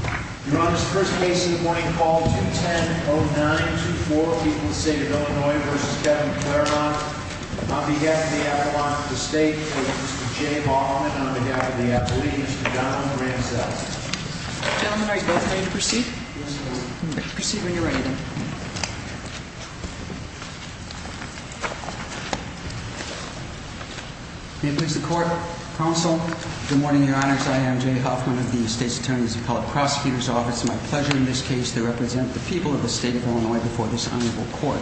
Your Honor, this is the first case of the morning. Call 210-0924. People of the State of Illinois v. Kevin Clairmont. On behalf of the Appalachian State, Mr. Jay Hoffman. On behalf of the Appalachian State, Mr. Donovan Ramsel. Gentlemen, are you both ready to proceed? Yes, Your Honor. Proceed when you're ready. May it please the Court. Counsel. Good morning, Your Honors. I am Jay Hoffman of the State's Attorney's Appellate Prosecutor's Office. It is my pleasure in this case to represent the people of the State of Illinois before this Honorable Court.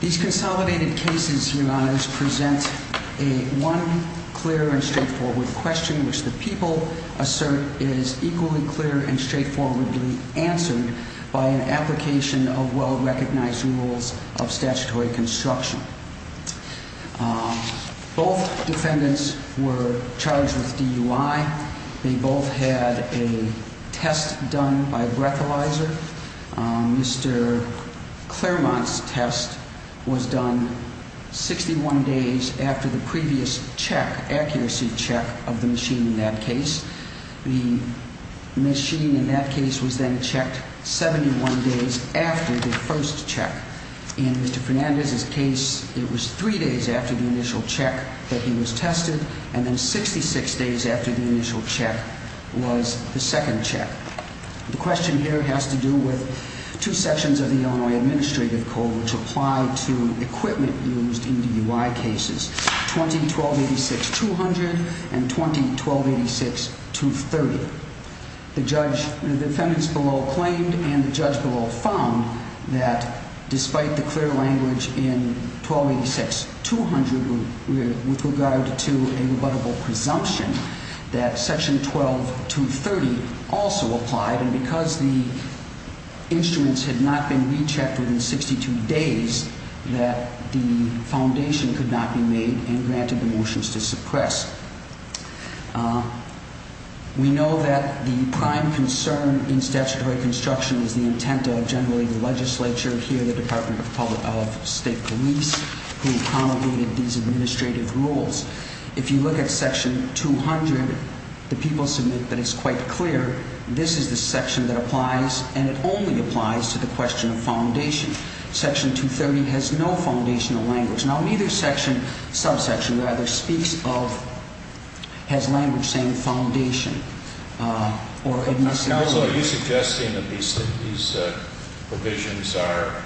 These consolidated cases, Your Honors, present a one clear and straightforward question which the people assert is equally clear and straightforwardly answered by an application of well-recognized rules of statutory construction. Both defendants were charged with DUI. They both had a test done by breathalyzer. Mr. Clairmont's test was done 61 days after the previous check, accuracy check of the machine in that case. The machine in that case was then checked 71 days after the first check. In Mr. Fernandez's case, it was three days after the initial check that he was tested and then 66 days after the initial check was the second check. The question here has to do with two sections of the Illinois Administrative Code which apply to equipment used in DUI cases, 20-1286-200 and 20-1286-230. The judge, the defendants below claimed and the judge below found that despite the clear language in 20-1286-200 with regard to a rebuttable presumption that section 12-230 also applied and because the instruments had not been rechecked within 62 days that the foundation could not be made and granted the motions to suppress. We know that the prime concern in statutory construction is the intent of generally the legislature, here the Department of State Police who promulgated these administrative rules. If you look at section 200, the people submit that it's quite clear this is the section that applies and it only applies to the question of foundation. Section 230 has no foundational language. Now, neither section, subsection rather, speaks of, has language saying foundation or administrative. So are you suggesting that these provisions are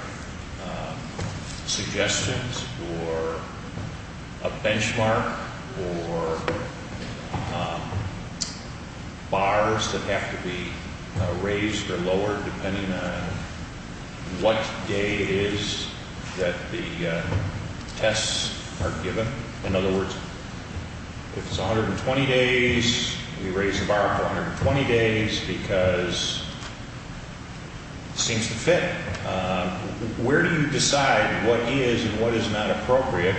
suggestions or a benchmark or bars that have to be raised or lowered depending on what day it is that the tests are given? In other words, if it's 120 days, we raise the bar for 120 days because it seems to fit. Where do you decide what is and what is not appropriate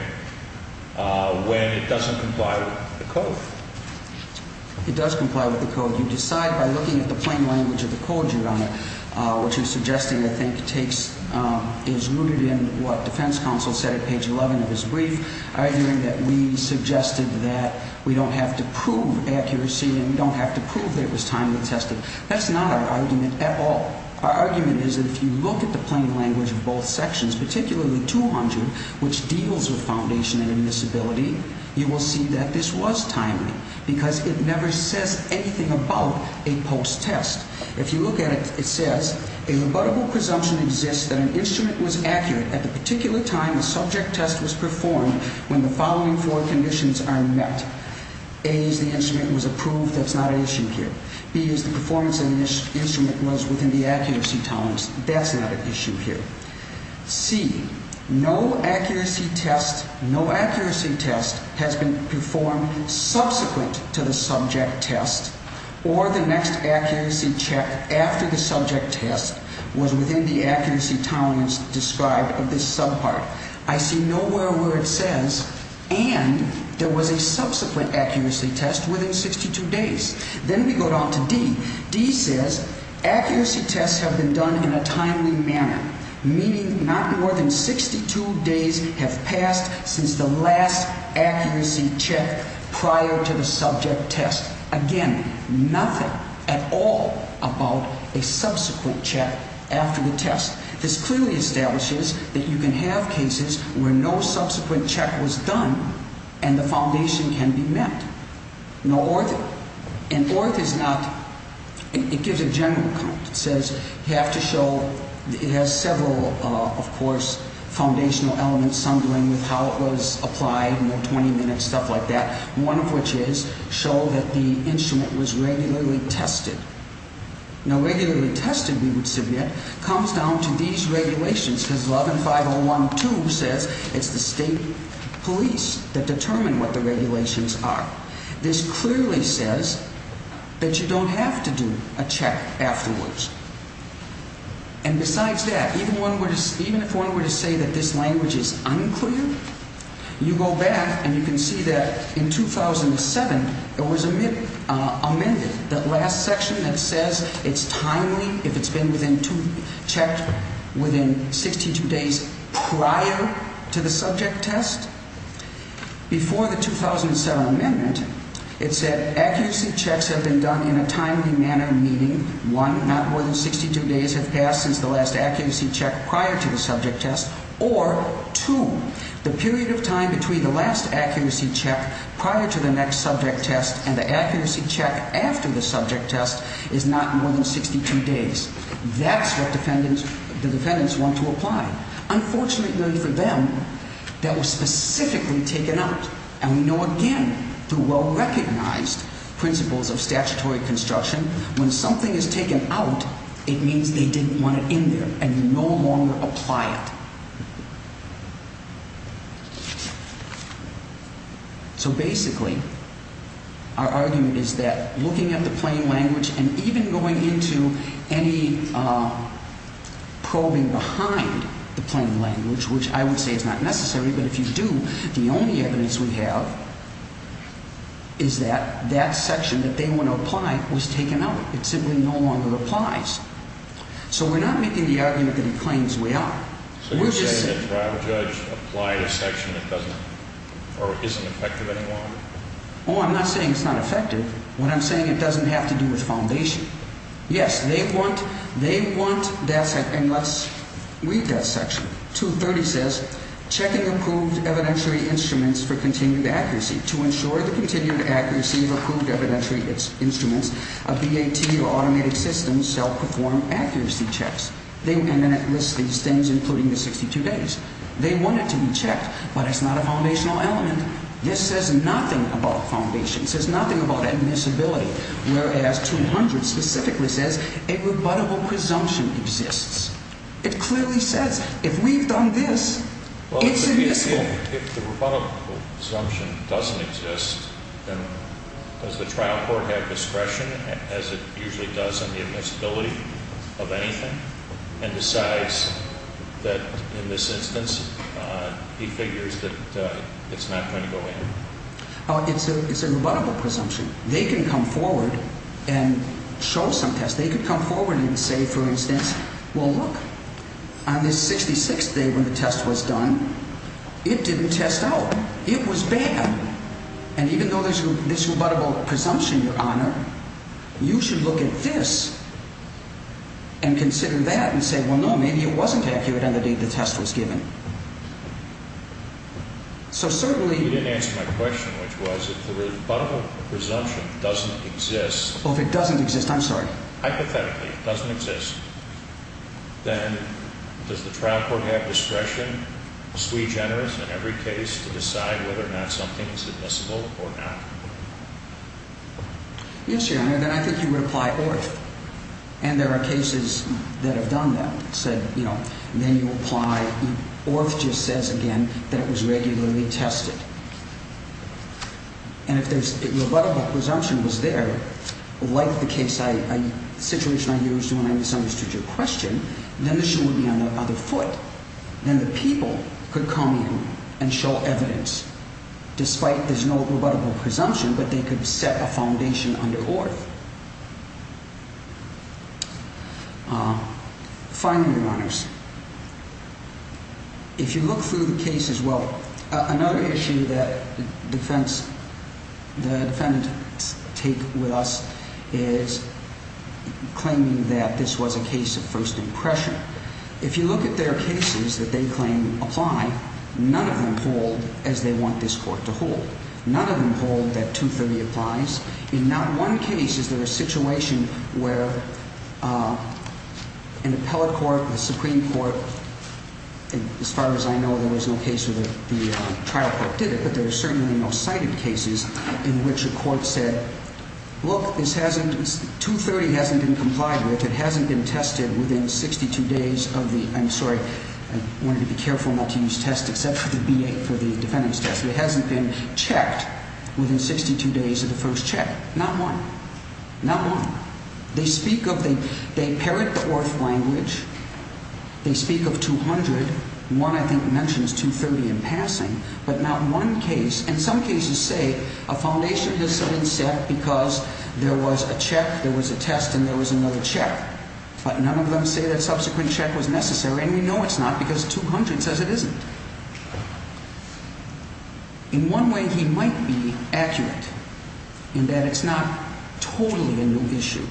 when it doesn't comply with the code? It does comply with the code. You decide by looking at the plain language of the code you're under, which you're suggesting I think takes, is rooted in what defense counsel said at page 11 of his brief, arguing that we suggested that we don't have to prove accuracy and we don't have to prove that it was timely tested. That's not our argument at all. Our argument is that if you look at the plain language of both sections, particularly 200, which deals with foundation and admissibility, you will see that this was timely because it never says anything about a post-test. If you look at it, it says, a rebuttable presumption exists that an instrument was accurate at the particular time a subject test was performed when the following four conditions are met. A is the instrument was approved. That's not an issue here. B is the performance of the instrument was within the accuracy tolerance. That's not an issue here. C, no accuracy test has been performed subsequent to the subject test or the next accuracy check after the subject test was within the accuracy tolerance described of this subpart. I see nowhere where it says, and there was a subsequent accuracy test within 62 days. Then we go down to D. D says, accuracy tests have been done in a timely manner, meaning not more than 62 days have passed since the last accuracy check prior to the subject test. Again, nothing at all about a subsequent check after the test. This clearly establishes that you can have cases where no subsequent check was done and the foundation can be met. And ORF is not, it gives a general account. It says you have to show, it has several, of course, foundational elements, some dealing with how it was applied, 20 minutes, stuff like that, one of which is show that the instrument was regularly tested. Now, regularly tested, we would submit, comes down to these regulations because 11-501-2 says it's the state police that determine what the regulations are. This clearly says that you don't have to do a check afterwards. And besides that, even if one were to say that this language is unclear, you go back and you can see that in 2007, it was amended, that last section that says it's timely if it's been checked within 62 days prior to the subject test. Before the 2007 amendment, it said accuracy checks have been done in a timely manner, meaning, one, not more than 62 days have passed since the last accuracy check prior to the subject test, or two, the period of time between the last accuracy check prior to the next subject test and the accuracy check after the subject test is not more than 62 days. That's what the defendants want to apply. Unfortunately for them, that was specifically taken out. And we know, again, through well-recognized principles of statutory construction, when something is taken out, it means they didn't want it in there and no longer apply it. So basically, our argument is that looking at the plain language and even going into any probing behind the plain language, which I would say is not necessary, but if you do, the only evidence we have is that that section that they want to apply was taken out. It simply no longer applies. So we're not making the argument that it claims we are. So you're saying that prior judge applied a section that doesn't or isn't effective anymore? Oh, I'm not saying it's not effective. What I'm saying, it doesn't have to do with foundation. Yes, they want that section. And let's read that section. 230 says, checking approved evidentiary instruments for continued accuracy. To ensure the continued accuracy of approved evidentiary instruments, a BAT or automated system shall perform accuracy checks. And then it lists these things, including the 62 days. They want it to be checked, but it's not a foundational element. This says nothing about foundation. It says nothing about admissibility. Whereas 200 specifically says a rebuttable presumption exists. It clearly says if we've done this, it's admissible. If the rebuttable presumption doesn't exist, then does the trial court have discretion as it usually does on the admissibility of anything and decides that in this instance, he figures that it's not going to go in? It's a rebuttable presumption. They can come forward and show some tests. They can come forward and say, for instance, well, look, on this 66th day when the test was done, it didn't test out. It was bad. And even though there's this rebuttable presumption, Your Honor, you should look at this and consider that and say, well, no, maybe it wasn't accurate on the day the test was given. You didn't answer my question, which was if the rebuttable presumption doesn't exist. If it doesn't exist, I'm sorry. Hypothetically, it doesn't exist. Then does the trial court have discretion, sui generis in every case, to decide whether or not something is admissible or not? Yes, Your Honor, then I think you would apply ORF. And there are cases that have done that, said, you know, then you apply. ORF just says, again, that it was regularly tested. And if the rebuttable presumption was there, like the situation I used when I misunderstood your question, then the shoe would be on the other foot. Then the people could come in and show evidence, despite there's no rebuttable presumption, but they could set a foundation under ORF. Finally, Your Honors, if you look through the cases, well, another issue that the defendants take with us is claiming that this was a case of first impression. If you look at their cases that they claim apply, none of them hold as they want this court to hold. None of them hold that 230 applies. In not one case is there a situation where an appellate court, the Supreme Court, as far as I know, there was no case where the trial court did it. But there are certainly no cited cases in which a court said, look, this hasn't, 230 hasn't been complied with. It hasn't been tested within 62 days of the, I'm sorry, I wanted to be careful not to use test, except for the B8 for the defendant's test. It hasn't been checked within 62 days of the first check. Not one. Not one. They speak of the, they parrot the ORF language. They speak of 200. One, I think, mentions 230 in passing. But not one case, and some cases say a foundation has been set because there was a check, there was a test, and there was another check. But none of them say that subsequent check was necessary, and we know it's not because 200 says it isn't. In one way, he might be accurate in that it's not totally a new issue.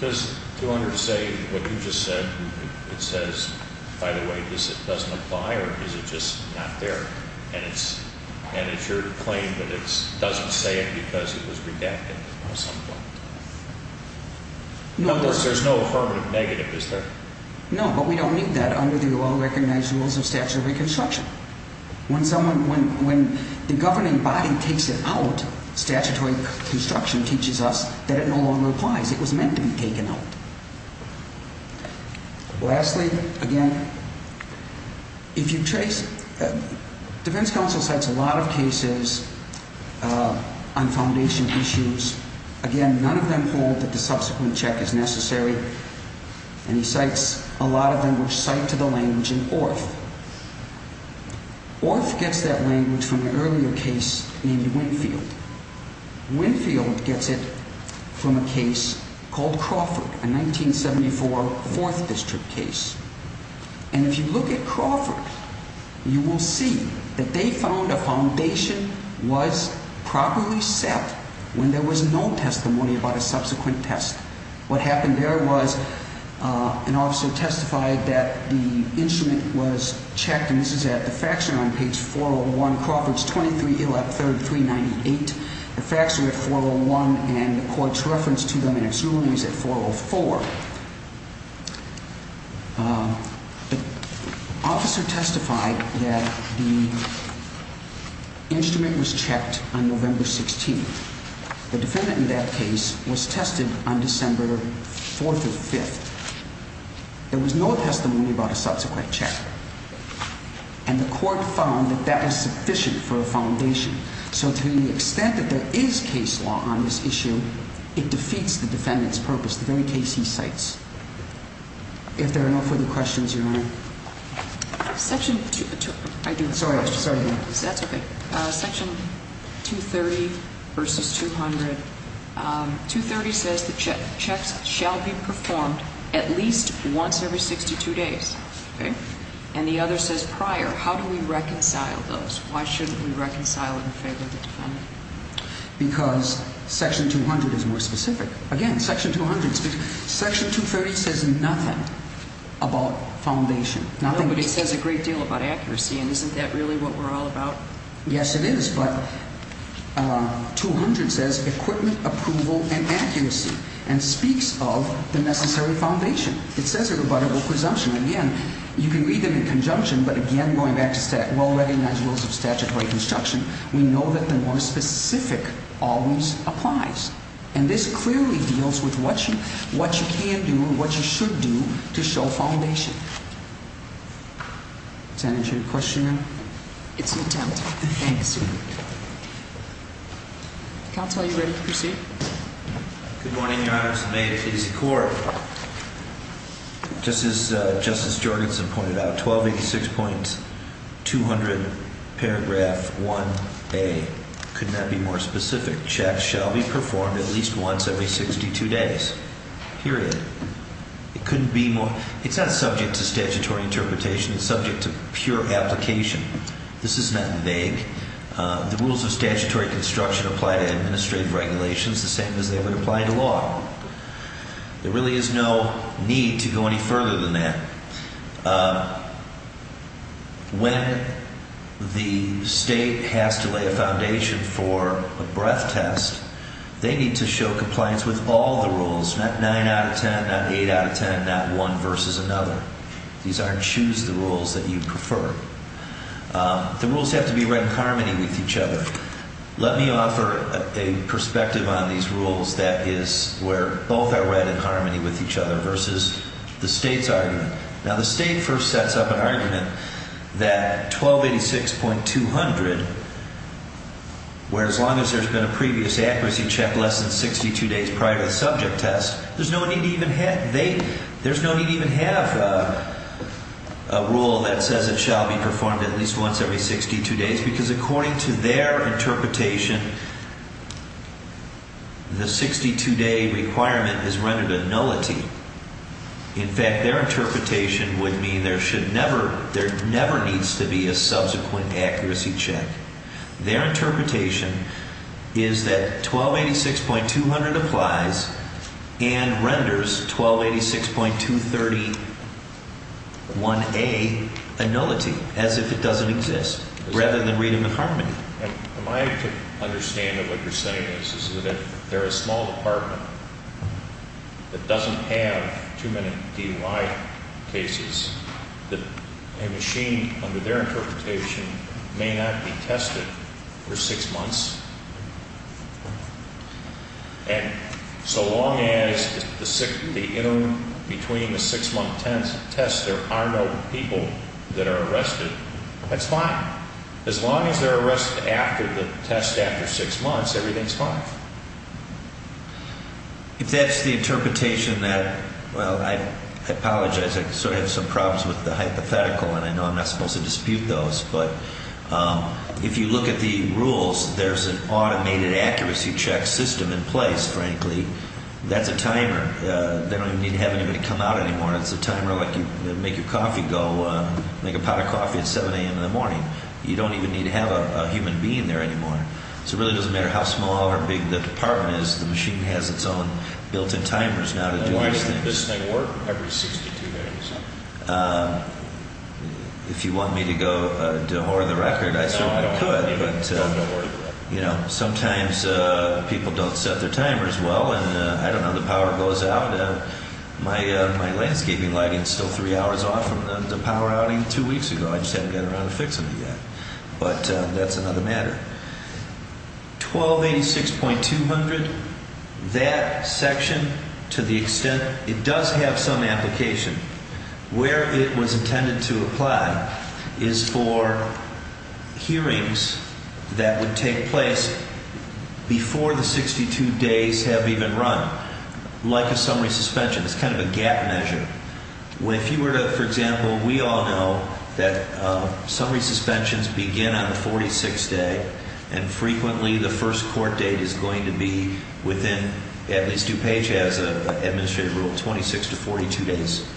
Does 200 say what you just said, it says, by the way, this doesn't apply, or is it just not there? And it's your claim that it doesn't say it because it was redacted at some point? No. In other words, there's no affirmative negative, is there? No, but we don't need that under the well-recognized rules of statutory construction. When someone, when the governing body takes it out, statutory construction teaches us that it no longer applies. It was meant to be taken out. Lastly, again, if you trace, defense counsel cites a lot of cases on foundation issues. Again, none of them hold that the subsequent check is necessary, and he cites a lot of them which cite to the language in Orth. Orth gets that language from an earlier case named Winfield. Winfield gets it from a case called Crawford, a 1974 4th District case. And if you look at Crawford, you will see that they found a foundation was properly set when there was no testimony about a subsequent test. What happened there was an officer testified that the instrument was checked, and this is at the faction on page 401, Crawford's 23-3398. The facts are at 401, and the court's reference to them in its ruling is at 404. The officer testified that the instrument was checked on November 16th. The defendant in that case was tested on December 4th or 5th. There was no testimony about a subsequent check, and the court found that that was sufficient for a foundation. So to the extent that there is case law on this issue, it defeats the defendant's purpose, the very case he cites. If there are no further questions, Your Honor. Section 230 versus 200. 230 says the checks shall be performed at least once every 62 days. And the other says prior. How do we reconcile those? Why shouldn't we reconcile in favor of the defendant? Because section 200 is more specific. Again, section 200. Section 230 says nothing about foundation. But it says a great deal about accuracy, and isn't that really what we're all about? Yes, it is, but 200 says equipment, approval, and accuracy, and speaks of the necessary foundation. It says a rebuttable presumption. Again, you can read them in conjunction, but again, going back to well-recognized rules of statutory construction, we know that the more specific always applies, and this clearly deals with what you can do and what you should do to show foundation. Senator, do you have a question? It's an attempt. Thank you, Senator. Counsel, are you ready to proceed? Good morning, Your Honors, and may it please the Court. Just as Justice Jorgensen pointed out, 1286.200 paragraph 1A, couldn't that be more specific? Checks shall be performed at least once every 62 days. Period. It couldn't be more. It's not subject to statutory interpretation. It's subject to pure application. This is not vague. The rules of statutory construction apply to administrative regulations the same as they would apply to law. There really is no need to go any further than that. When the state has to lay a foundation for a breath test, they need to show compliance with all the rules, not 9 out of 10, not 8 out of 10, not one versus another. These aren't choose the rules that you prefer. The rules have to be read in harmony with each other. Let me offer a perspective on these rules that is where both are read in harmony with each other versus the state's argument. Now, the state first sets up an argument that 1286.200, where as long as there's been a previous accuracy check less than 62 days prior to the subject test, there's no need to even have a rule that says it shall be performed at least once every 62 days because according to their interpretation, the 62-day requirement is rendered a nullity. In fact, their interpretation would mean there should never, there never needs to be a subsequent accuracy check. Their interpretation is that 1286.200 applies and renders 1286.231A a nullity as if it doesn't exist rather than read them in harmony. And my understanding of what you're saying is that if they're a small department that doesn't have too many DUI cases, that a machine under their interpretation may not be tested for six months. And so long as the interim between the six-month test, there are no people that are arrested, that's fine. As long as they're arrested after the test after six months, everything's fine. If that's the interpretation that, well, I apologize, I sort of have some problems with the hypothetical and I know I'm not supposed to dispute those, but if you look at the rules, there's an automated accuracy check system in place, frankly. That's a timer. They don't even need to have anybody come out anymore. It's a timer like you make your coffee go, make a pot of coffee at 7 a.m. in the morning. You don't even need to have a human being there anymore. So it really doesn't matter how small or big the department is, the machine has its own built-in timers now to do these things. Does this thing work every 62 days? If you want me to go dehor the record, I certainly could. No, don't worry about it. Sometimes people don't set their timers well and I don't know, the power goes out. My landscaping lighting is still three hours off from the power outing two weeks ago. I just haven't gotten around to fixing it yet, but that's another matter. 1286.200, that section, to the extent it does have some application, where it was intended to apply is for hearings that would take place before the 62 days have even run. Like a summary suspension, it's kind of a gap measure. If you were to, for example, we all know that summary suspensions begin on the 46th day and frequently the first court date is going to be within, at least DuPage has an administrative rule, 26 to 42 days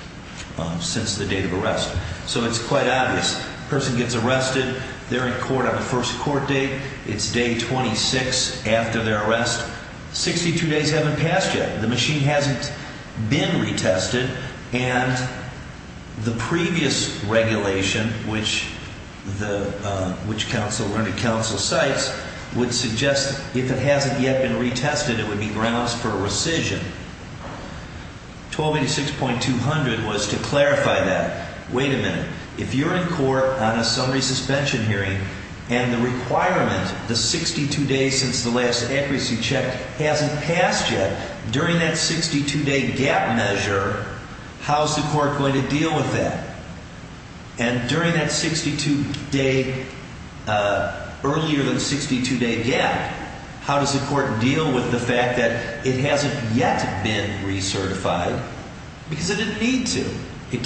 since the date of arrest. So it's quite obvious. A person gets arrested, they're in court on the first court date, it's day 26 after their arrest, 62 days haven't passed yet, the machine hasn't been retested, and the previous regulation, which the, which counsel, under counsel cites, would suggest if it hasn't yet been retested, it would be grounds for rescission. 1286.200 was to clarify that. Wait a minute, if you're in court on a summary suspension hearing and the requirement, the 62 days since the last accuracy check hasn't passed yet, during that 62 day gap measure, how's the court going to deal with that? And during that 62 day, earlier than 62 day gap, how does the court deal with the fact that it hasn't yet been recertified? Because it didn't need to. It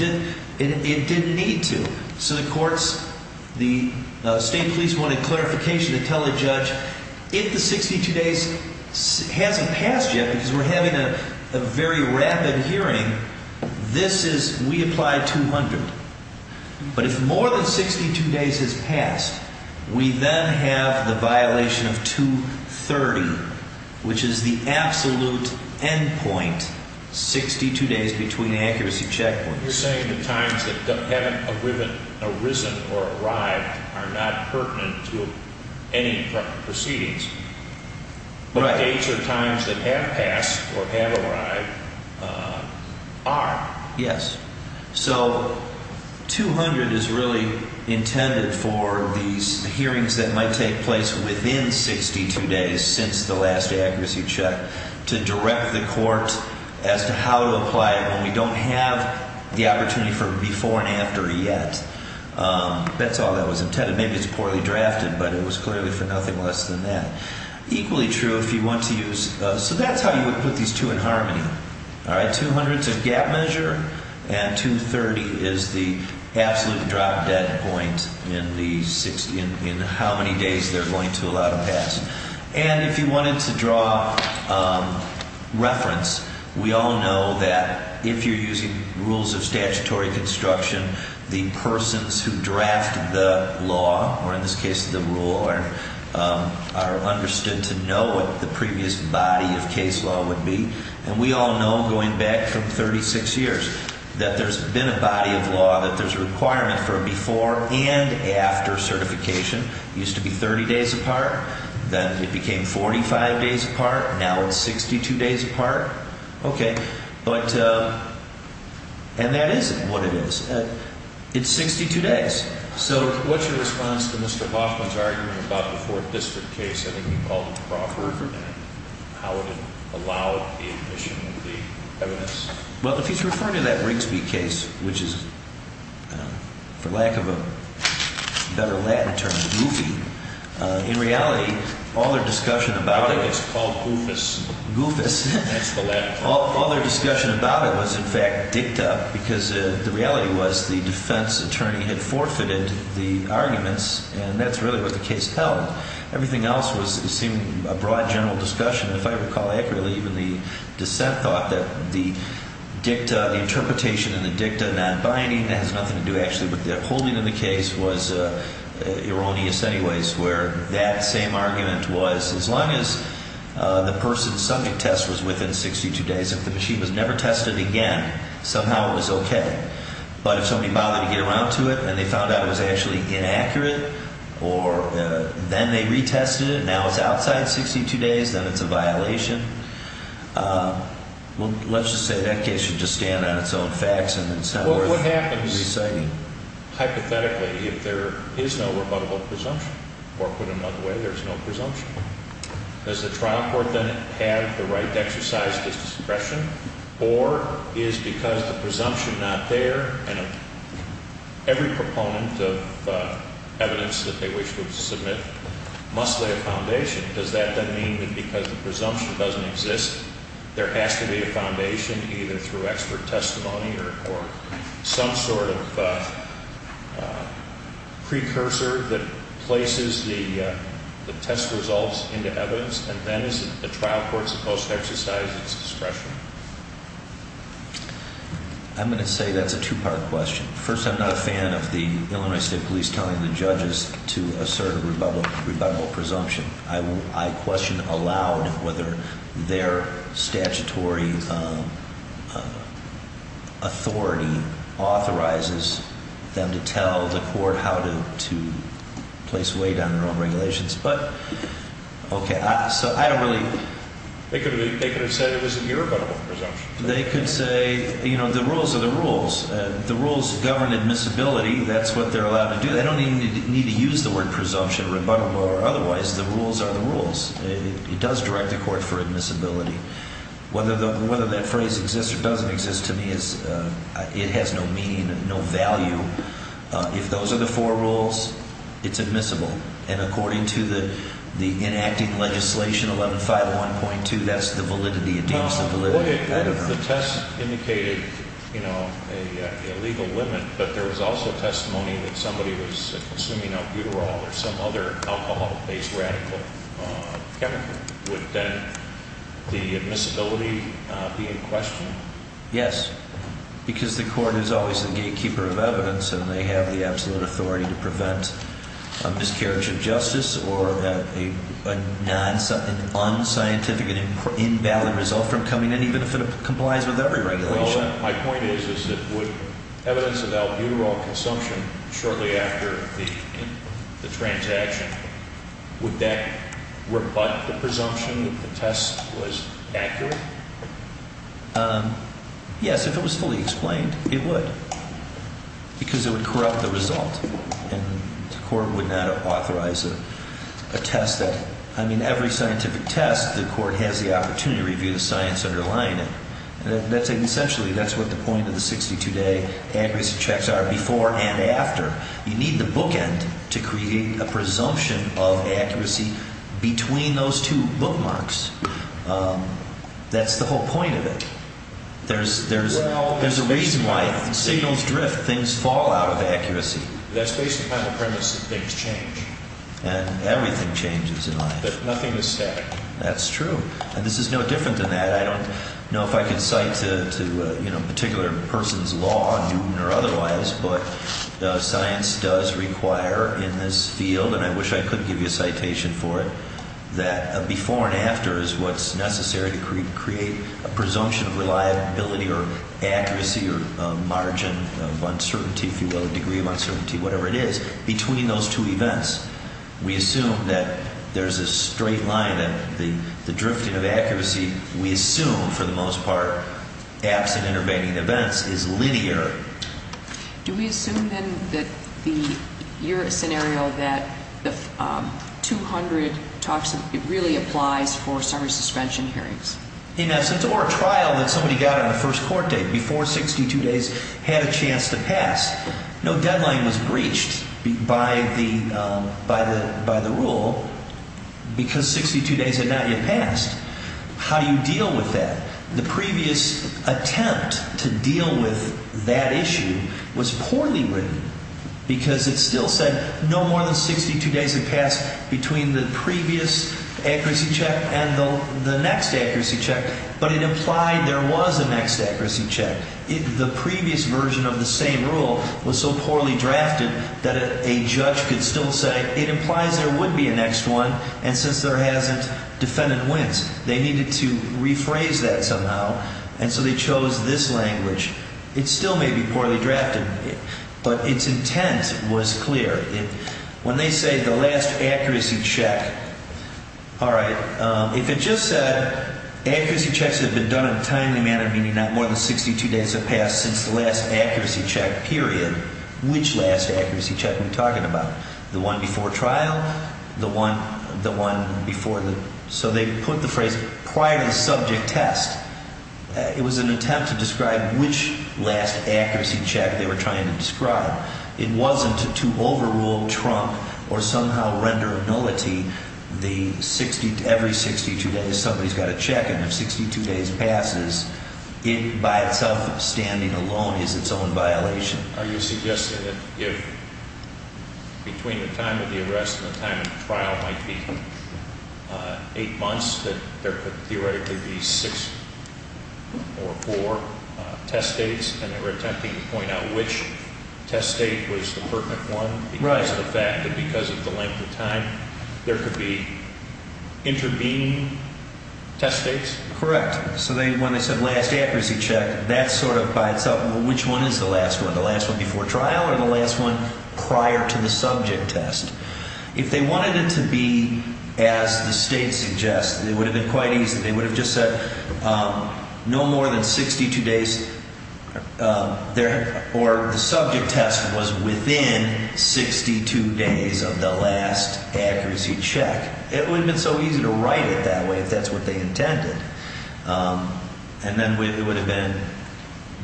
didn't need to. So the courts, the state police wanted clarification to tell the judge, if the 62 days hasn't passed yet because we're having a very rapid hearing, this is, we apply 200. But if more than 62 days has passed, we then have the violation of 230, which is the absolute end point, 62 days between accuracy check points. You're saying the times that haven't arisen or arrived are not pertinent to any proceedings. But the dates or times that have passed or have arrived are. Yes. So 200 is really intended for these hearings that might take place within 62 days since the last accuracy check to direct the court as to how to apply it when we don't have the opportunity for before and after yet. That's all that was intended. Maybe it's poorly drafted, but it was clearly for nothing less than that. Equally true if you want to use, so that's how you would put these two in harmony. All right. 200 is a gap measure and 230 is the absolute drop dead point in the 60, in how many days they're going to allow to pass. And if you wanted to draw reference, we all know that if you're using rules of statutory construction, the persons who draft the law, or in this case the rule, are understood to know what the previous body of case law would be. And we all know going back from 36 years that there's been a body of law that there's a requirement for a before and after certification. It used to be 30 days apart, then it became 45 days apart, now it's 62 days apart. Okay. But, and that is what it is. It's 62 days. So what's your response to Mr. Hoffman's argument about the Fourth District case? I think he called it the Rothberger, and how would it allow the admission of the evidence? Well, if he's referring to that Rigsby case, which is for lack of a better Latin term, which is Goofy, in reality, all their discussion about it… I think it's called Goofus. Goofus. All their discussion about it was in fact dicta, because the reality was the defense attorney had forfeited the arguments, and that's really what the case held. Everything else seemed a broad general discussion. If I recall accurately, even the dissent thought that the dicta, the interpretation in the dicta, non-binding, that has nothing to do actually with the upholding of the case, was erroneous anyways, where that same argument was, as long as the person's subject test was within 62 days, if the machine was never tested again, somehow it was okay. But if somebody bothered to get around to it, and they found out it was actually inaccurate, or then they retested it, now it's outside 62 days, then it's a violation, well, let's just say that case should just stand on its own facts. Well, what happens, hypothetically, if there is no rebuttable presumption? Or put another way, there's no presumption. Does the trial court then have the right to exercise discretion, or is it because the presumption is not there, and every proponent of evidence that they wish to submit must lay a foundation. Does that then mean that because the presumption doesn't exist, there has to be a foundation, either through expert testimony, or some sort of precursor that places the test results into evidence, and then is the trial court supposed to exercise its discretion? I'm going to say that's a two-part question. First, I'm not a fan of the Illinois State Police telling the judges to assert a rebuttable presumption. I question aloud whether their statutory authority authorizes them to tell the court how to place weight on their own regulations. But, okay, so I don't really... They could have said it was an irrebuttable presumption. They could say, you know, the rules are the rules. The rules govern admissibility, that's what they're allowed to do. They don't even need to use the word presumption or rebuttable or otherwise. The rules are the rules. It does direct the court for admissibility. Whether that phrase exists or doesn't exist, to me, it has no meaning, no value. If those are the four rules, it's admissible. And according to the enacting legislation, 11-5-1.2, that's the validity, it deems the validity. Well, the test indicated, you know, a legal limit, but there was also testimony that somebody was consuming albuterol or some other alcohol-based radical chemical. Would then the admissibility be in question? Yes, because the court is always the gatekeeper of evidence and they have the absolute authority to prevent a miscarriage of justice or an unscientific and invalid result from coming in, even if it complies with every regulation. My point is, is that would evidence of albuterol consumption shortly after the transaction, would that rebut the presumption that the test was accurate? Yes, if it was fully explained, it would, because it would corrupt the result and the court would not authorize a test that, I mean, every scientific test, the court has the opportunity to review the science underlying it. Essentially, that's what the point of the 62-day accuracy checks are, before and after. You need the bookend to create a presumption of accuracy between those two bookmarks. That's the whole point of it. There's a reason why signals drift, things fall out of accuracy. That's based upon the premise that things change. And everything changes in life. But nothing is static. That's true. And this is no different than that. I don't know if I can cite to a particular person's law, Newton or otherwise, but science does require in this field, and I wish I could give you a citation for it, that a before and after is what's necessary to create a presumption of reliability or accuracy or margin of uncertainty, if you will, a degree of uncertainty, whatever it is, between those two events. We assume that there's a straight line, that the drifting of accuracy, we assume, for the most part, absent intervening events, is linear. Do we assume, then, that your scenario, that the 200 talks, it really applies for summary suspension hearings? In essence, or a trial that somebody got on the first court date, before 62 days had a chance to pass. No deadline was breached by the rule because 62 days had not yet passed. How do you deal with that? The previous attempt to deal with that issue was poorly written because it still said no more than 62 days had passed between the previous accuracy check and the next accuracy check, but it implied there was a next accuracy check. The previous version of the same rule was so poorly drafted that a judge could still say it implies there would be a next one, and since there hasn't, defendant wins. They needed to rephrase that somehow, and so they chose this language. It still may be poorly drafted, but its intent was clear. When they say the last accuracy check, all right, if it just said accuracy checks had been done in a timely manner, meaning not more than 62 days had passed since the last accuracy check period, which last accuracy check are we talking about? The one before trial? The one before the... So they put the phrase prior to the subject test. It was an attempt to describe which last accuracy check they were trying to describe. It wasn't to overrule, trunk, or somehow render nullity every 62 days somebody's got a check, and if 62 days passes, it by itself, standing alone, is its own violation. Are you suggesting that if between the time of the arrest and the time of the trial might be eight months, that there could theoretically be six or four test dates, and they were attempting to point out which test date was the perfect one there could be intervening test dates? Correct. So when they said last accuracy check, that's sort of by itself, well, which one is the last one? The last one before trial or the last one prior to the subject test? If they wanted it to be as the state suggests, it would have been quite easy. They would have just said no more than 62 days, or the subject test was within 62 days of the last accuracy check. It would have been so easy to write it that way if that's what they intended. And then it would have been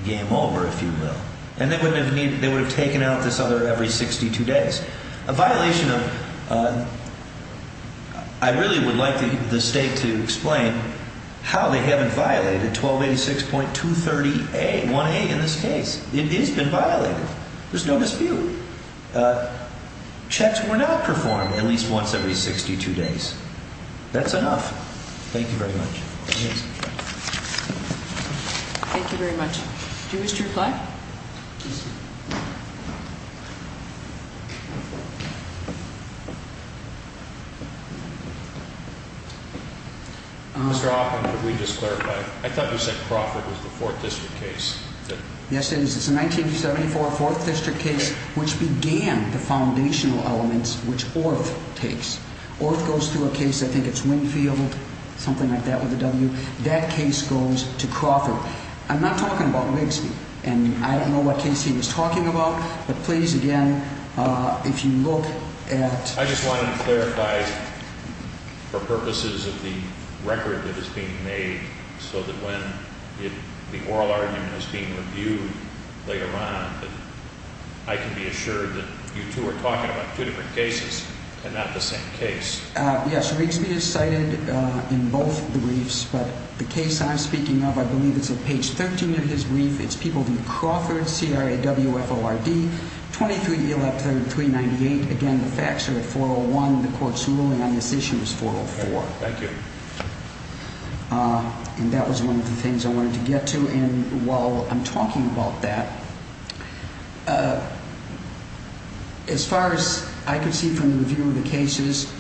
game over, if you will. And they would have taken out this other every 62 days. A violation of, I really would like the state to explain how they haven't violated 1286.230A, 1A in this case. It has been violated. There's no dispute. Checks were not performed at least once every 62 days. That's enough. Thank you very much. Thank you very much. Do you wish to reply? Mr. Hoffman, could we just clarify? I thought you said Crawford was the 4th District case. Yes, it is. It's a 1974 4th District case which began the foundational elements which Orth takes. Orth goes through a case, I think it's Winfield, something like that with a W. That case goes to Crawford. I'm talking about Wigsby and Crawford. I don't know what case he was talking about. But please, again, if you look at... I just wanted to clarify for purposes of the record that is being made so that when the oral argument is being reviewed later on, I can be assured that you two are talking about two different cases and not the same case. Yes, Wigsby is cited in both the briefs. But the case I'm speaking of, I believe it's on page 13 of his brief, it's People v. Crawford, C-R-A-W-F-O-R-D, 23-E-L-F-3, 398. Again, the facts are at 401. The court's ruling on this issue is 404. Thank you. And that was one of the things I wanted to get to. And while I'm talking about that, as far as I can see from the review of the cases,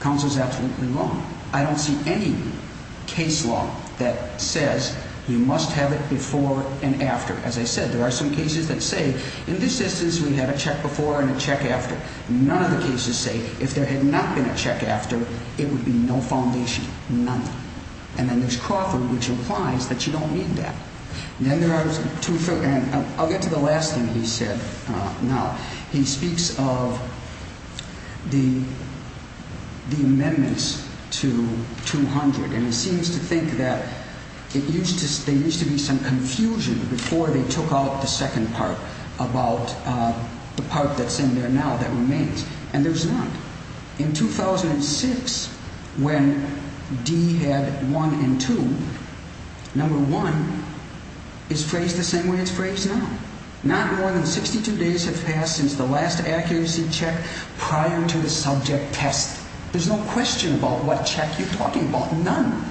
counsel is absolutely wrong. I don't see any case law that says you must have it before and after. As I said, there are some cases that say in this instance we had a check before and a check after. None of the cases say if there had not been a check after, it would be no foundation, none. And then there's Crawford, which implies that you don't need that. I'll get to the last thing he said now. He speaks of the amendments to 200. And he seems to think that there used to be some confusion before they took out the second part about the part that's in there now that remains. And there's none. In 2006, when D had one and two, number one is phrased the same way it's phrased now. Not more than 62 days have passed since the last accuracy check prior to the subject test. There's no question about what check you're talking about. None.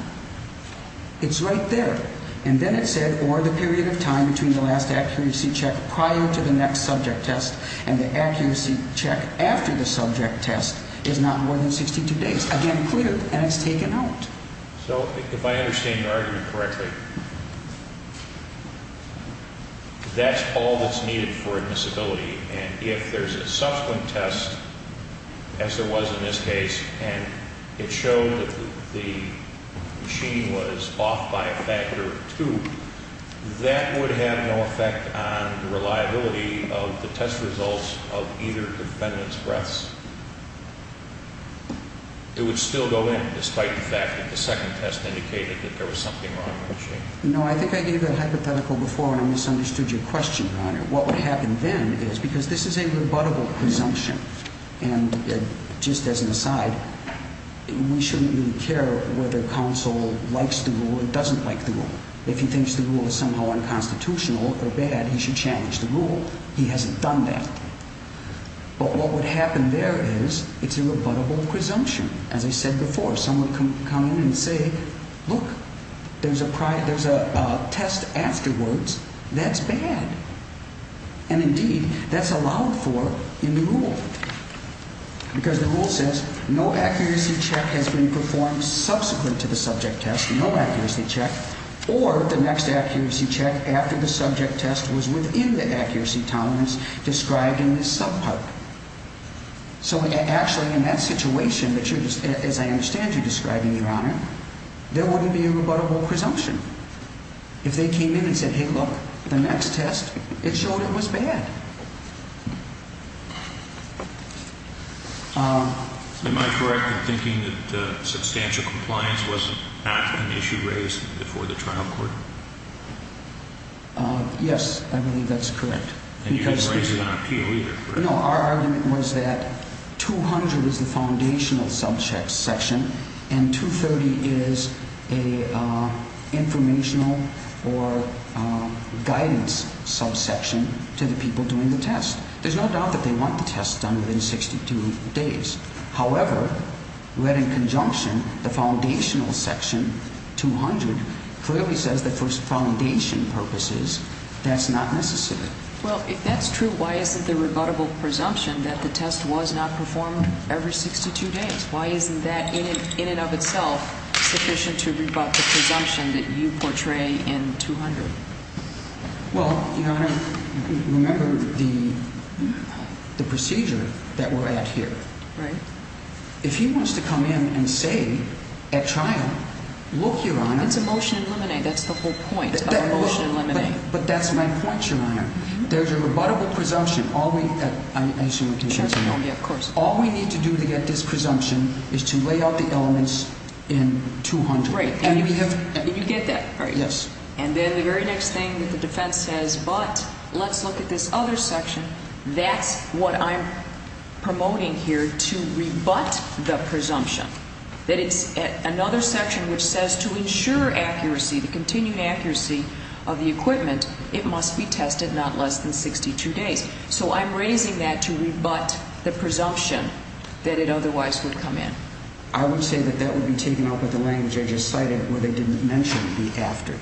It's right there. And then it said, or the period of time between the last accuracy check prior to the next subject test and the accuracy check after the subject test is not more than 62 days. Again, cleared, and it's taken out. So if I understand your argument correctly, that's all that's needed for admissibility. And if there's a subsequent test, as there was in this case, and it showed that the machine was off by a factor of two, that would have no effect on the reliability of the test results of either defendant's breaths. It would still go in, despite the fact that the second test indicated that there was something wrong with the machine. No, I think I gave that hypothetical before and I misunderstood your question, Your Honor. What would happen then is, because this is a rebuttable presumption, and just as an aside, we shouldn't really care whether counsel likes the rule or doesn't like the rule. If he thinks the rule is somehow unconstitutional or bad, he should challenge the rule. He hasn't done that. But what would happen there is, it's a rebuttable presumption. As I said before, someone would come in and say, look, there's a test afterwards. That's bad. And indeed, that's allowed for in the rule. Because the rule says, no accuracy check has been performed subsequent to the subject test, no accuracy check, or the next accuracy check after the subject test was within the accuracy tolerance described in this subpart. So actually, in that situation, as I understand you describing, Your Honor, there wouldn't be a rebuttable presumption. If they came in and said, hey, look, the next test, it showed it was bad. Am I correct in thinking that substantial compliance was not an issue raised before the trial court? Yes, I believe that's correct. And you didn't raise it on appeal either, correct? No, our argument was that 200 is the foundational subsection, and 230 is an informational or guidance subsection to the people concerned. They're doing the test. There's no doubt that they want the test done within 62 days. However, read in conjunction, the foundational section, 200, clearly says that for foundation purposes, that's not necessary. Well, if that's true, why isn't the rebuttable presumption that the test was not performed every 62 days? Why isn't that in and of itself sufficient to rebut the presumption that you portray in 200? Well, Your Honor, remember the procedure that we're at here. Right. If he wants to come in and say at trial, look, Your Honor. It's a motion in limine. That's the whole point of a motion in limine. But that's my point, Your Honor. There's a rebuttable presumption. All we need to do to get this presumption is to lay out the elements in 200. Right. And you get that, right? And then the very next thing that the defense says, but let's look at this other section. That's what I'm promoting here to rebut the presumption. That it's another section which says to ensure accuracy, the continued accuracy of the equipment, it must be tested not less than 62 days. So I'm raising that to rebut the presumption that it otherwise would come in. I would say that that would be taken out by the language I just cited where they didn't mention the after.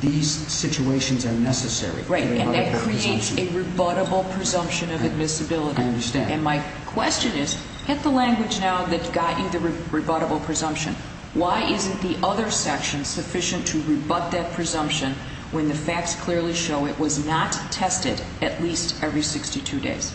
These situations are necessary. Right, and that creates a rebuttable presumption of admissibility. I understand. And my question is, hit the language now that got you the rebuttable presumption. Why isn't the other section sufficient to rebut that presumption when the facts clearly show it was not tested at least every 62 days?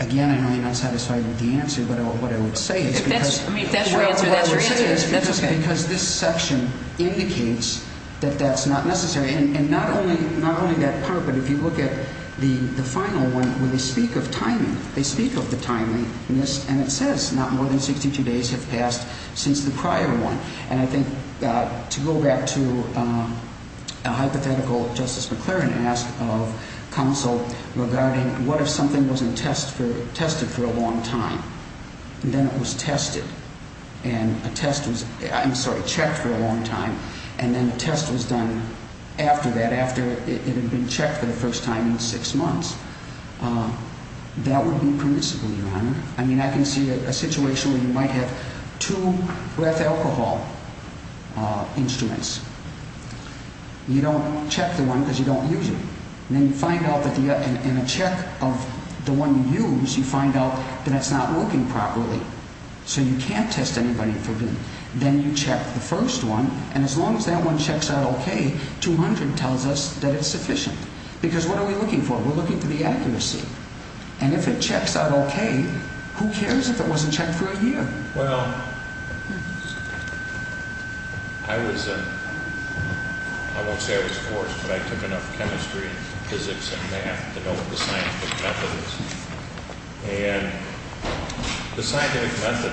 Again, I know you're not satisfied with the answer, but what I would say is because... the other section indicates that that's not necessary. And not only that part, but if you look at the final one where they speak of timing, they speak of the timeliness and it says not more than 62 days have passed since the prior one. And I think to go back to a hypothetical Justice McLaren asked of counsel regarding for a long time and then it was tested and a test was, I'm sorry, for a long time and then a test was done after that, after it had been checked for the first time in six months, that would be permissible, Your Honor. I mean, I can see a situation where you might have two breath alcohol instruments. You don't check the one because you don't use it. And then you find out that in a check of the one you use, you find out that it's not working properly. So you can't test anybody for B. You can't test anyone and as long as that one checks out okay, 200 tells us that it's sufficient because what are we looking for? We're looking for the accuracy and if it checks out okay, who cares if it wasn't checked for a year? Well, I was, I won't say I was forced, but I took enough chemistry and physics and math to know what the scientific method is and the scientific method is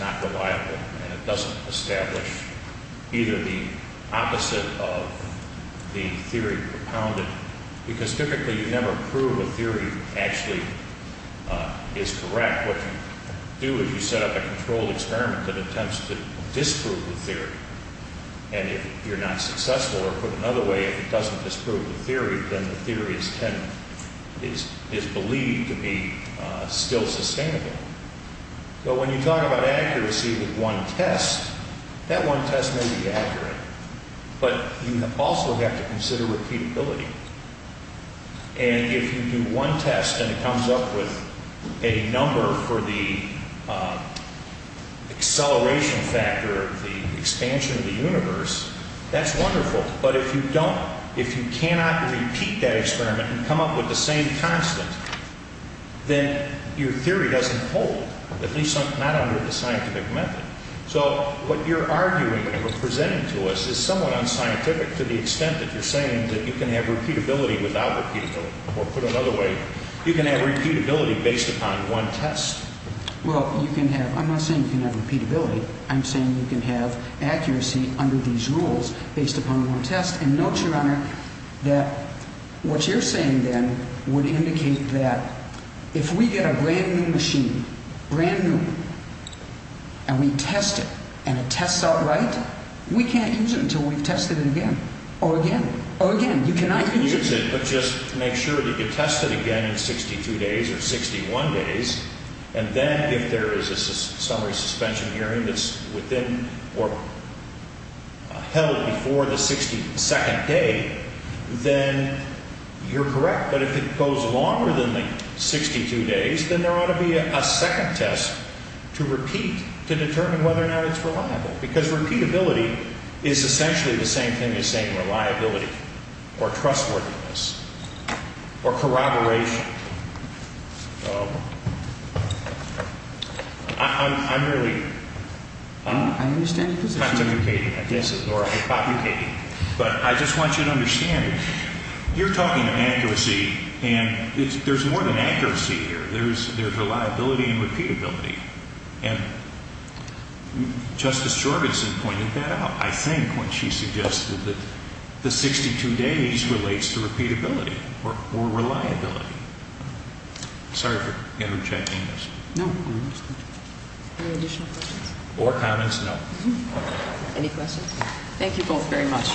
not reliable and it doesn't establish either the opposite of the theory propounded because typically you never prove a theory actually is correct. What you do is you set up a controlled experiment that attempts to disprove the theory and if you're not successful or put it another way, if it doesn't disprove the theory, then the theory is believed to be still sustainable. If you talk about accuracy with one test, that one test may be accurate, but you also have to consider repeatability and if you do one test and it comes up with a number for the acceleration factor of the expansion of the universe, that's wonderful, but if you don't, if you cannot repeat that experiment and come up with the same constant, then your theory doesn't hold, it's not a scientific method. So what you're arguing and what you're presenting to us is somewhat unscientific to the extent that you're saying that you can have repeatability without repeatability or put it another way, you can have repeatability based upon one test. Well, I'm not saying you can have repeatability, I'm saying you can have accuracy under these rules based upon one test and we test it and it tests out right, we can't use it until we've tested it again or again, or again, you cannot use it. You can use it, but just make sure that you test it again in 62 days or 61 days and then if there is a summary suspension hearing that's within or held before the second day, then you're correct, but if it goes longer then you need to determine whether or not it's reliable because repeatability is essentially the same thing as saying reliability or trustworthiness or corroboration. I'm really pontificating at this, but I just want you to understand you're talking accuracy and there's more than accuracy here, there's reliability and trustworthiness and I think Justice Jorgensen pointed that out I think when she suggested that the 62 days relates to repeatability or reliability. Sorry for interjecting this. Any additional questions? Or comments? No. Any questions? Thank you both very much.